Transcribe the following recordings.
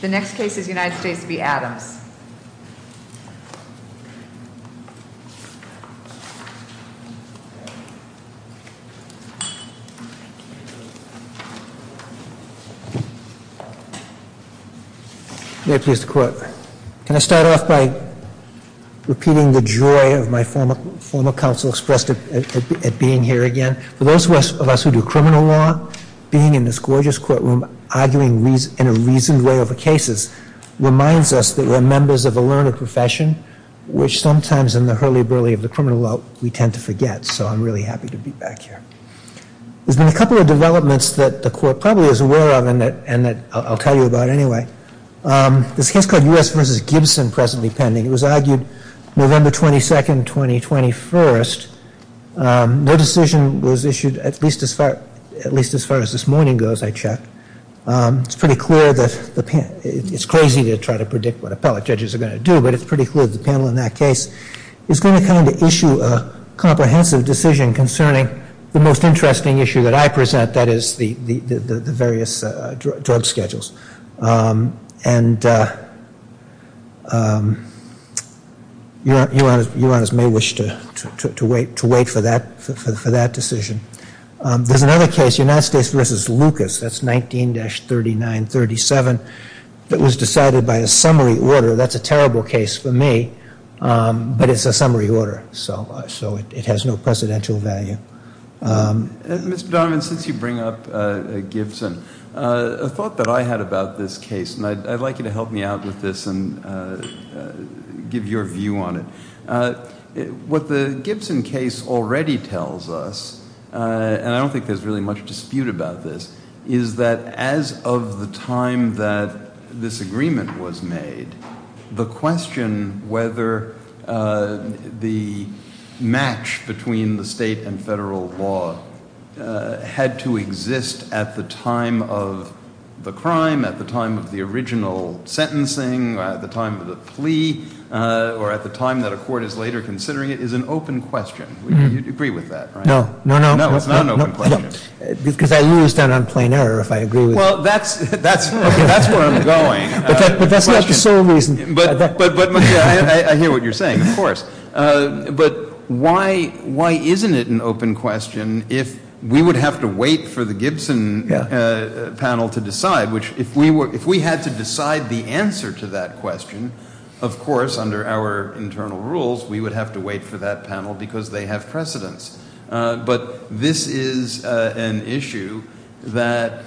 The next case is United States v. Adams. May I please have the court? Can I start off by repeating the joy of my former counsel expressed at being here again? And for those of us who do criminal law, being in this gorgeous courtroom arguing in a reasoned way over cases reminds us that we're members of a learned profession, which sometimes in the hurly-burly of the criminal world we tend to forget. So I'm really happy to be back here. There's been a couple of developments that the court probably is aware of and that I'll tell you about anyway. There's a case called U.S. v. Gibson presently pending. It was argued November 22, 2021. Their decision was issued at least as far as this morning goes, I checked. It's crazy to try to predict what appellate judges are going to do, but it's pretty clear that the panel in that case is going to kind of issue a comprehensive decision concerning the most interesting issue that I present, that is, the various drug schedules. And you may wish to wait for that decision. There's another case, United States v. Lucas, that's 19-3937, that was decided by a summary order. That's a terrible case for me, but it's a summary order, so it has no precedential value. Mr. Donovan, since you bring up Gibson, a thought that I had about this case, and I'd like you to help me out with this and give your view on it. What the Gibson case already tells us, and I don't think there's really much dispute about this, is that as of the time that this agreement was made, the question whether the match between the state and federal law had to exist at the time of the crime, at the time of the original sentencing, at the time of the plea, or at the time that a court is later considering it, is an open question. You'd agree with that, right? No, no, no. No, it's not an open question. Because I knew it was done on plain error, if I agree with that. Well, that's where I'm going. But that's not the sole reason. I hear what you're saying, of course. But why isn't it an open question if we would have to wait for the Gibson panel to decide? If we had to decide the answer to that question, of course, under our internal rules, we would have to wait for that panel because they have precedence. But this is an issue that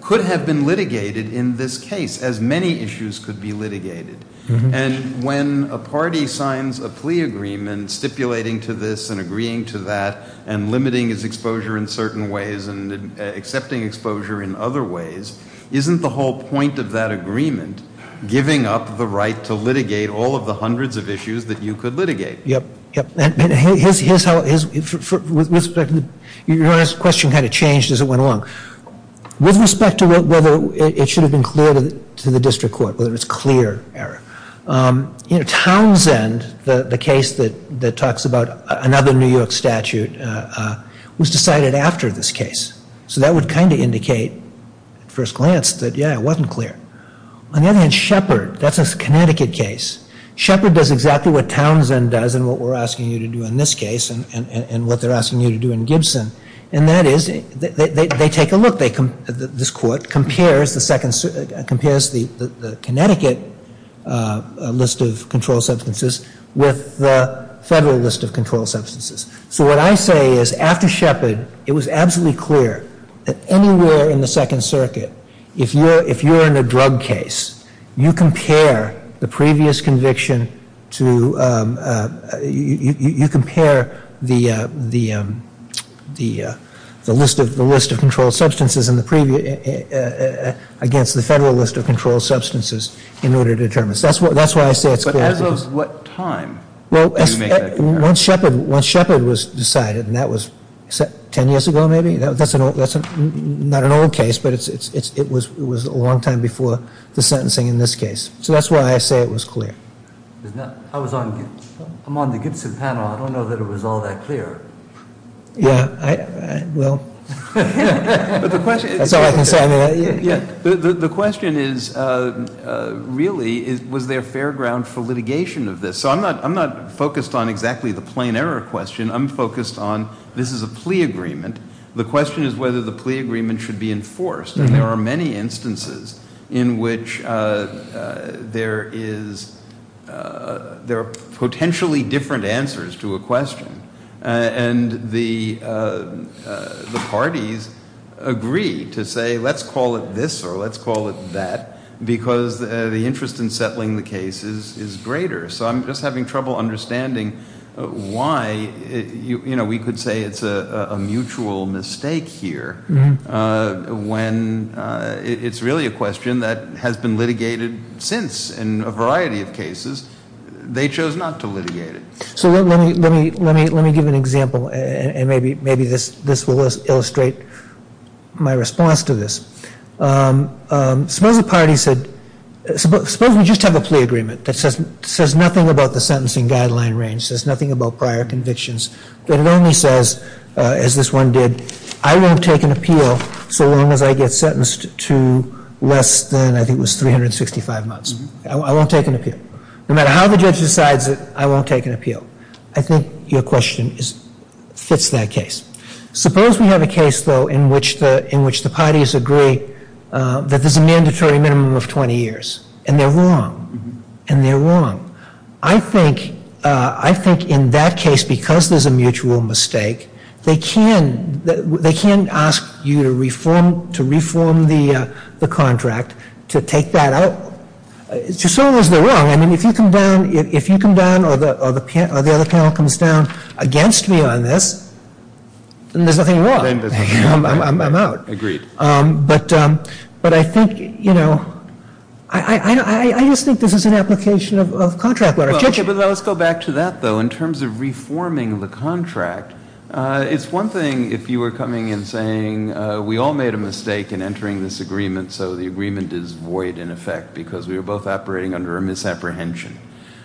could have been litigated in this case, as many issues could be litigated. And when a party signs a plea agreement stipulating to this and agreeing to that and limiting its exposure in certain ways and accepting exposure in other ways, isn't the whole point of that agreement giving up the right to litigate all of the hundreds of issues that you could litigate? Yep, yep. And here's how, with respect to, your question kind of changed as it went along. With respect to whether it should have been clear to the district court, whether it's clear error, Townsend, the case that talks about another New York statute, was decided after this case. So that would kind of indicate, at first glance, that, yeah, it wasn't clear. On the other hand, Shepard, that's a Connecticut case. Shepard does exactly what Townsend does and what we're asking you to do in this case and what they're asking you to do in Gibson, and that is they take a look. This court compares the Connecticut list of controlled substances with the federal list of controlled substances. So what I say is, after Shepard, it was absolutely clear that anywhere in the Second Circuit, if you're in a drug case, you compare the previous conviction to, you compare the list of controlled substances against the federal list of controlled substances in order to determine. So that's why I say it's clear. But as of what time? Well, once Shepard was decided, and that was 10 years ago, maybe? That's not an old case, but it was a long time before the sentencing in this case. So that's why I say it was clear. I'm on the Gibson panel. I don't know that it was all that clear. Yeah, well, that's all I can say. The question is, really, was there fair ground for litigation of this? So I'm not focused on exactly the plain error question. I'm focused on this is a plea agreement. The question is whether the plea agreement should be enforced. And there are many instances in which there is, there are potentially different answers to a question. And the parties agree to say, let's call it this or let's call it that, because the interest in settling the case is greater. So I'm just having trouble understanding why we could say it's a mutual mistake here, when it's really a question that has been litigated since in a variety of cases. They chose not to litigate it. So let me give an example, and maybe this will illustrate my response to this. Suppose a party said, suppose we just have a plea agreement that says nothing about the sentencing guideline range, says nothing about prior convictions, but it only says, as this one did, I won't take an appeal so long as I get sentenced to less than I think it was 365 months. I won't take an appeal. No matter how the judge decides it, I won't take an appeal. I think your question fits that case. Suppose we have a case, though, in which the parties agree that there's a mandatory minimum of 20 years, and they're wrong, and they're wrong. I think in that case, because there's a mutual mistake, they can ask you to reform the contract to take that out. So long as they're wrong, I mean, if you come down or the other panel comes down against me on this, then there's nothing wrong. I'm out. Agreed. But I think, you know, I just think this is an application of contract law. But let's go back to that, though. In terms of reforming the contract, it's one thing if you were coming and saying, we all made a mistake in entering this agreement, so the agreement is void in effect because we were both operating under a misapprehension.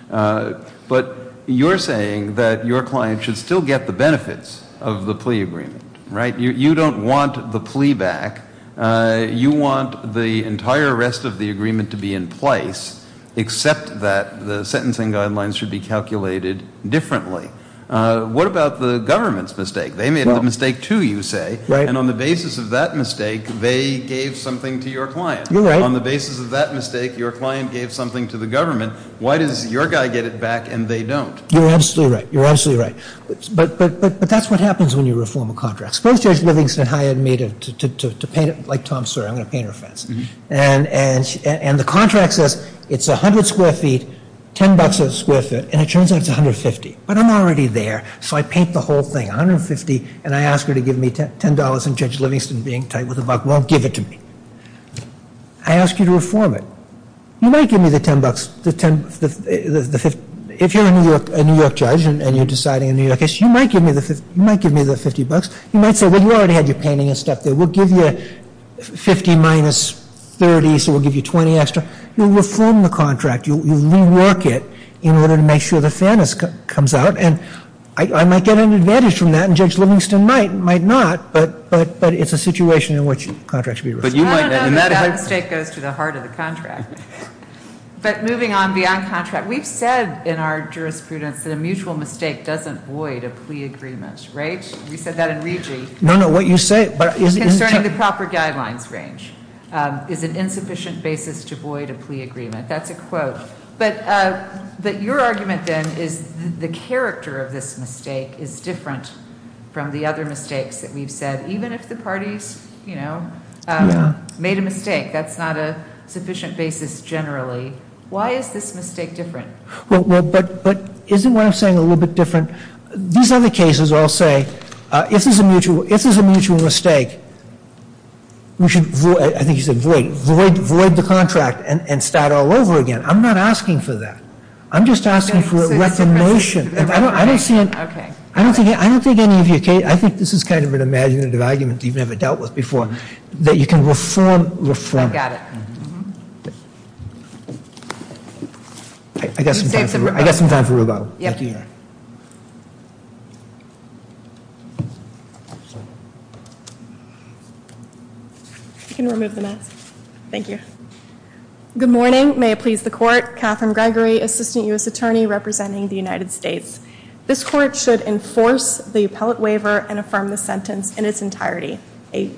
But you're saying that your client should still get the benefits of the plea agreement, right? You don't want the plea back. You want the entire rest of the agreement to be in place, except that the sentencing guidelines should be calculated differently. What about the government's mistake? They made a mistake, too, you say. Right. And on the basis of that mistake, they gave something to your client. You're right. On the basis of that mistake, your client gave something to the government. Why does your guy get it back and they don't? You're absolutely right. You're absolutely right. But that's what happens when you reform a contract. Suppose Judge Livingston hired me to paint it like Tom Sawyer. I'm going to paint her fence. And the contract says it's 100 square feet, 10 bucks a square foot, and it turns out it's 150. But I'm already there, so I paint the whole thing. And I ask her to give me $10, and Judge Livingston, being tight with the buck, won't give it to me. I ask you to reform it. You might give me the 10 bucks. If you're a New York judge and you're deciding a New York case, you might give me the 50 bucks. You might say, well, you already had your painting and stuff there. We'll give you 50 minus 30, so we'll give you 20 extra. You'll reform the contract. You'll rework it in order to make sure the fairness comes out. And I might get an advantage from that, and Judge Livingston might not. But it's a situation in which the contract should be reformed. No, no, no. That mistake goes to the heart of the contract. But moving on beyond contract, we've said in our jurisprudence that a mutual mistake doesn't void a plea agreement, right? We said that in RGGI. No, no, what you say. Concerning the proper guidelines range is an insufficient basis to void a plea agreement. That's a quote. But your argument, then, is the character of this mistake is different from the other mistakes that we've said. Even if the parties, you know, made a mistake, that's not a sufficient basis generally. Why is this mistake different? Well, but isn't what I'm saying a little bit different? These other cases all say if this is a mutual mistake, we should, I think you said void, void the contract and start all over again. I'm not asking for that. I'm just asking for a recognition. I don't think any of you, Kate, I think this is kind of an imaginative argument you've never dealt with before, that you can reform, reform. I got it. I got some time for Rubo. Yep. You can remove the mask. Thank you. Good morning. May it please the court. Catherine Gregory, Assistant U.S. Attorney representing the United States. This court should enforce the appellate waiver and affirm the sentence in its entirety. A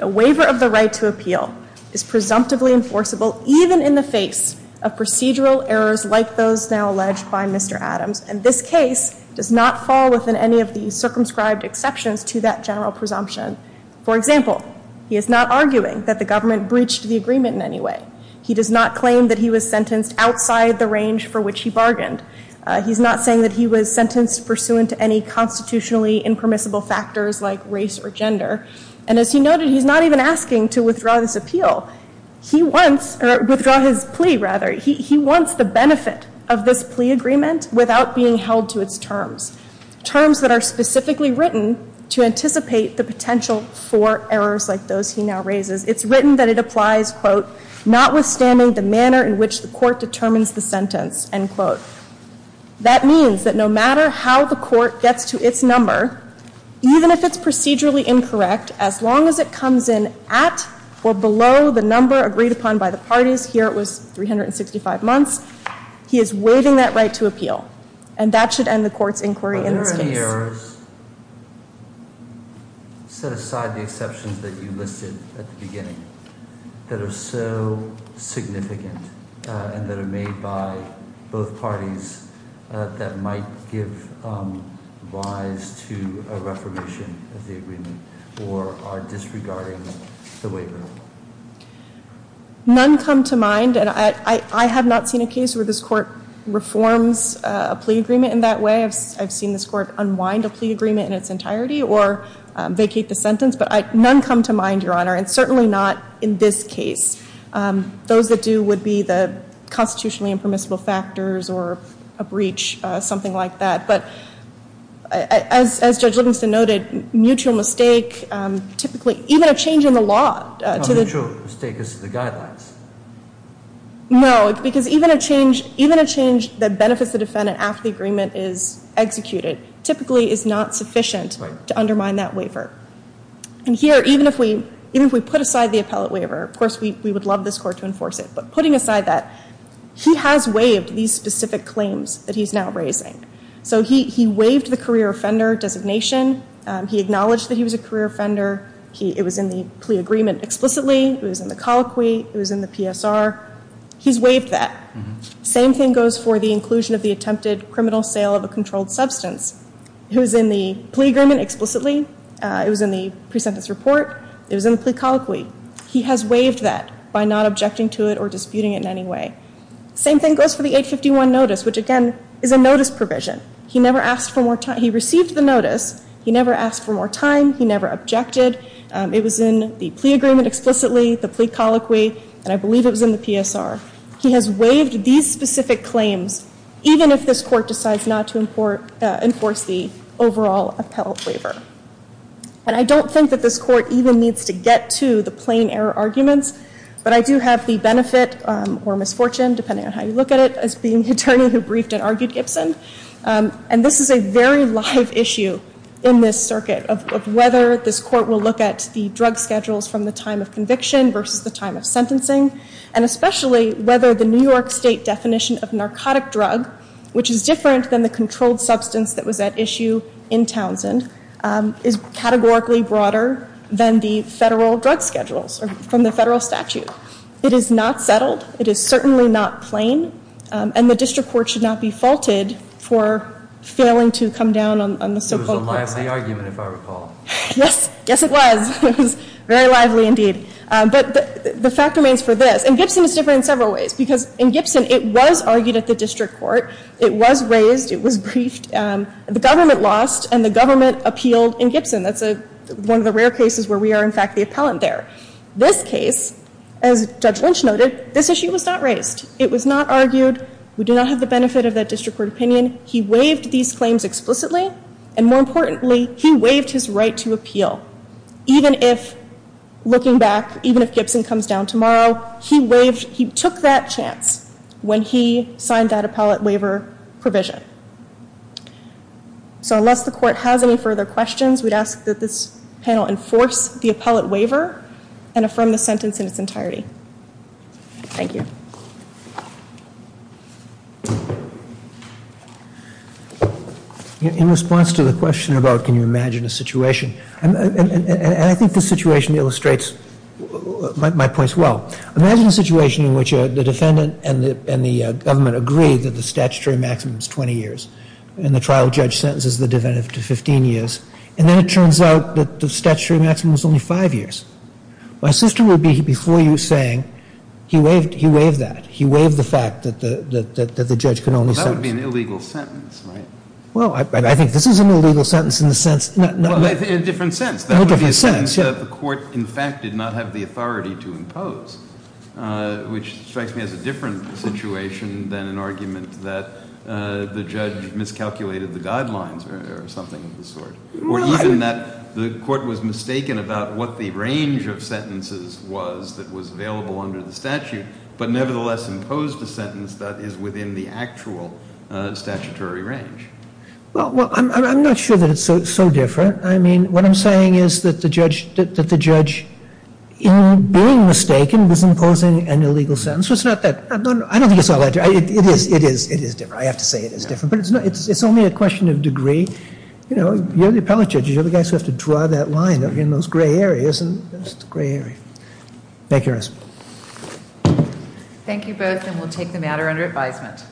waiver of the right to appeal is presumptively enforceable even in the face of procedural errors like those now alleged by Mr. Adams. And this case does not fall within any of the circumscribed exceptions to that general presumption. For example, he is not arguing that the government breached the agreement in any way. He does not claim that he was sentenced outside the range for which he bargained. He's not saying that he was sentenced pursuant to any constitutionally impermissible factors like race or gender. And as he noted, he's not even asking to withdraw this appeal. He wants, or withdraw his plea rather, he wants the benefit of this plea agreement without being held to its terms. Terms that are specifically written to anticipate the potential for errors like those he now raises. It's written that it applies, quote, notwithstanding the manner in which the court determines the sentence, end quote. That means that no matter how the court gets to its number, even if it's procedurally incorrect, as long as it comes in at or below the number agreed upon by the parties, here it was 365 months, he is waiving that right to appeal. And that should end the court's inquiry in this case. None come to mind. And I have not seen a case where this court reforms a plea agreement in that way. I've seen this court unwind a plea agreement in its entirety or vacate the sentence. But none come to mind, Your Honor. And certainly not in this case. Those that do would be the constitutionally impermissible factors or a breach, something like that. But as Judge Livingston noted, mutual mistake typically, even a change in the law. No, mutual mistake is the guidelines. No, because even a change that benefits the defendant after the agreement is executed, typically is not sufficient to undermine that waiver. And here, even if we put aside the appellate waiver, of course, we would love this court to enforce it. But putting aside that, he has waived these specific claims that he's now raising. So he waived the career offender designation. He acknowledged that he was a career offender. It was in the plea agreement explicitly. It was in the colloquy. It was in the PSR. He's waived that. Same thing goes for the inclusion of the attempted criminal sale of a controlled substance. It was in the plea agreement explicitly. It was in the pre-sentence report. It was in the plea colloquy. He has waived that by not objecting to it or disputing it in any way. Same thing goes for the 851 notice, which, again, is a notice provision. He never asked for more time. He received the notice. He never asked for more time. He never objected. It was in the plea agreement explicitly. The plea colloquy. And I believe it was in the PSR. He has waived these specific claims, even if this court decides not to enforce the overall appellate waiver. And I don't think that this court even needs to get to the plain error arguments. But I do have the benefit or misfortune, depending on how you look at it, as being the attorney who briefed and argued Gibson. And this is a very live issue in this circuit of whether this court will look at the drug schedules from the time of conviction versus the time of sentencing, and especially whether the New York State definition of narcotic drug, which is different than the controlled substance that was at issue in Townsend, is categorically broader than the federal drug schedules from the federal statute. It is not settled. It is certainly not plain. And the district court should not be faulted for failing to come down on the so-called court. It was a lively argument, if I recall. Yes. Yes, it was. It was very lively, indeed. But the fact remains for this. And Gibson is different in several ways. Because in Gibson, it was argued at the district court. It was raised. It was briefed. The government lost, and the government appealed in Gibson. That's one of the rare cases where we are, in fact, the appellant there. This case, as Judge Lynch noted, this issue was not raised. It was not argued. We do not have the benefit of that district court opinion. He waived these claims explicitly. And more importantly, he waived his right to appeal. Even if, looking back, even if Gibson comes down tomorrow, he took that chance when he signed that appellate waiver provision. So unless the court has any further questions, we'd ask that this panel enforce the appellate waiver and affirm the sentence in its entirety. Thank you. In response to the question about can you imagine a situation, and I think this situation illustrates my points well. Imagine a situation in which the defendant and the government agree that the statutory maximum is 20 years, and the trial judge sentences the defendant to 15 years, and then it turns out that the statutory maximum is only five years. My sister would be before you saying, he waived that. He waived the fact that the judge can only sentence. Well, that would be an illegal sentence, right? Well, I think this is an illegal sentence in the sense. Well, in a different sense. In a different sense, yeah. That would be a sentence that the court, in fact, did not have the authority to impose, which strikes me as a different situation than an argument that the judge miscalculated the guidelines or something of the sort. Or even that the court was mistaken about what the range of sentences was that was available under the statute, but nevertheless imposed a sentence that is within the actual statutory range. Well, I'm not sure that it's so different. I mean, what I'm saying is that the judge, in being mistaken, was imposing an illegal sentence. I don't think it's all that different. It is different. I have to say it is different, but it's only a question of degree. You know, you're the appellate judges. You're the guys who have to draw that line in those gray areas. It's a gray area. Thank you, Ernest. Thank you both, and we'll take the matter under advisement.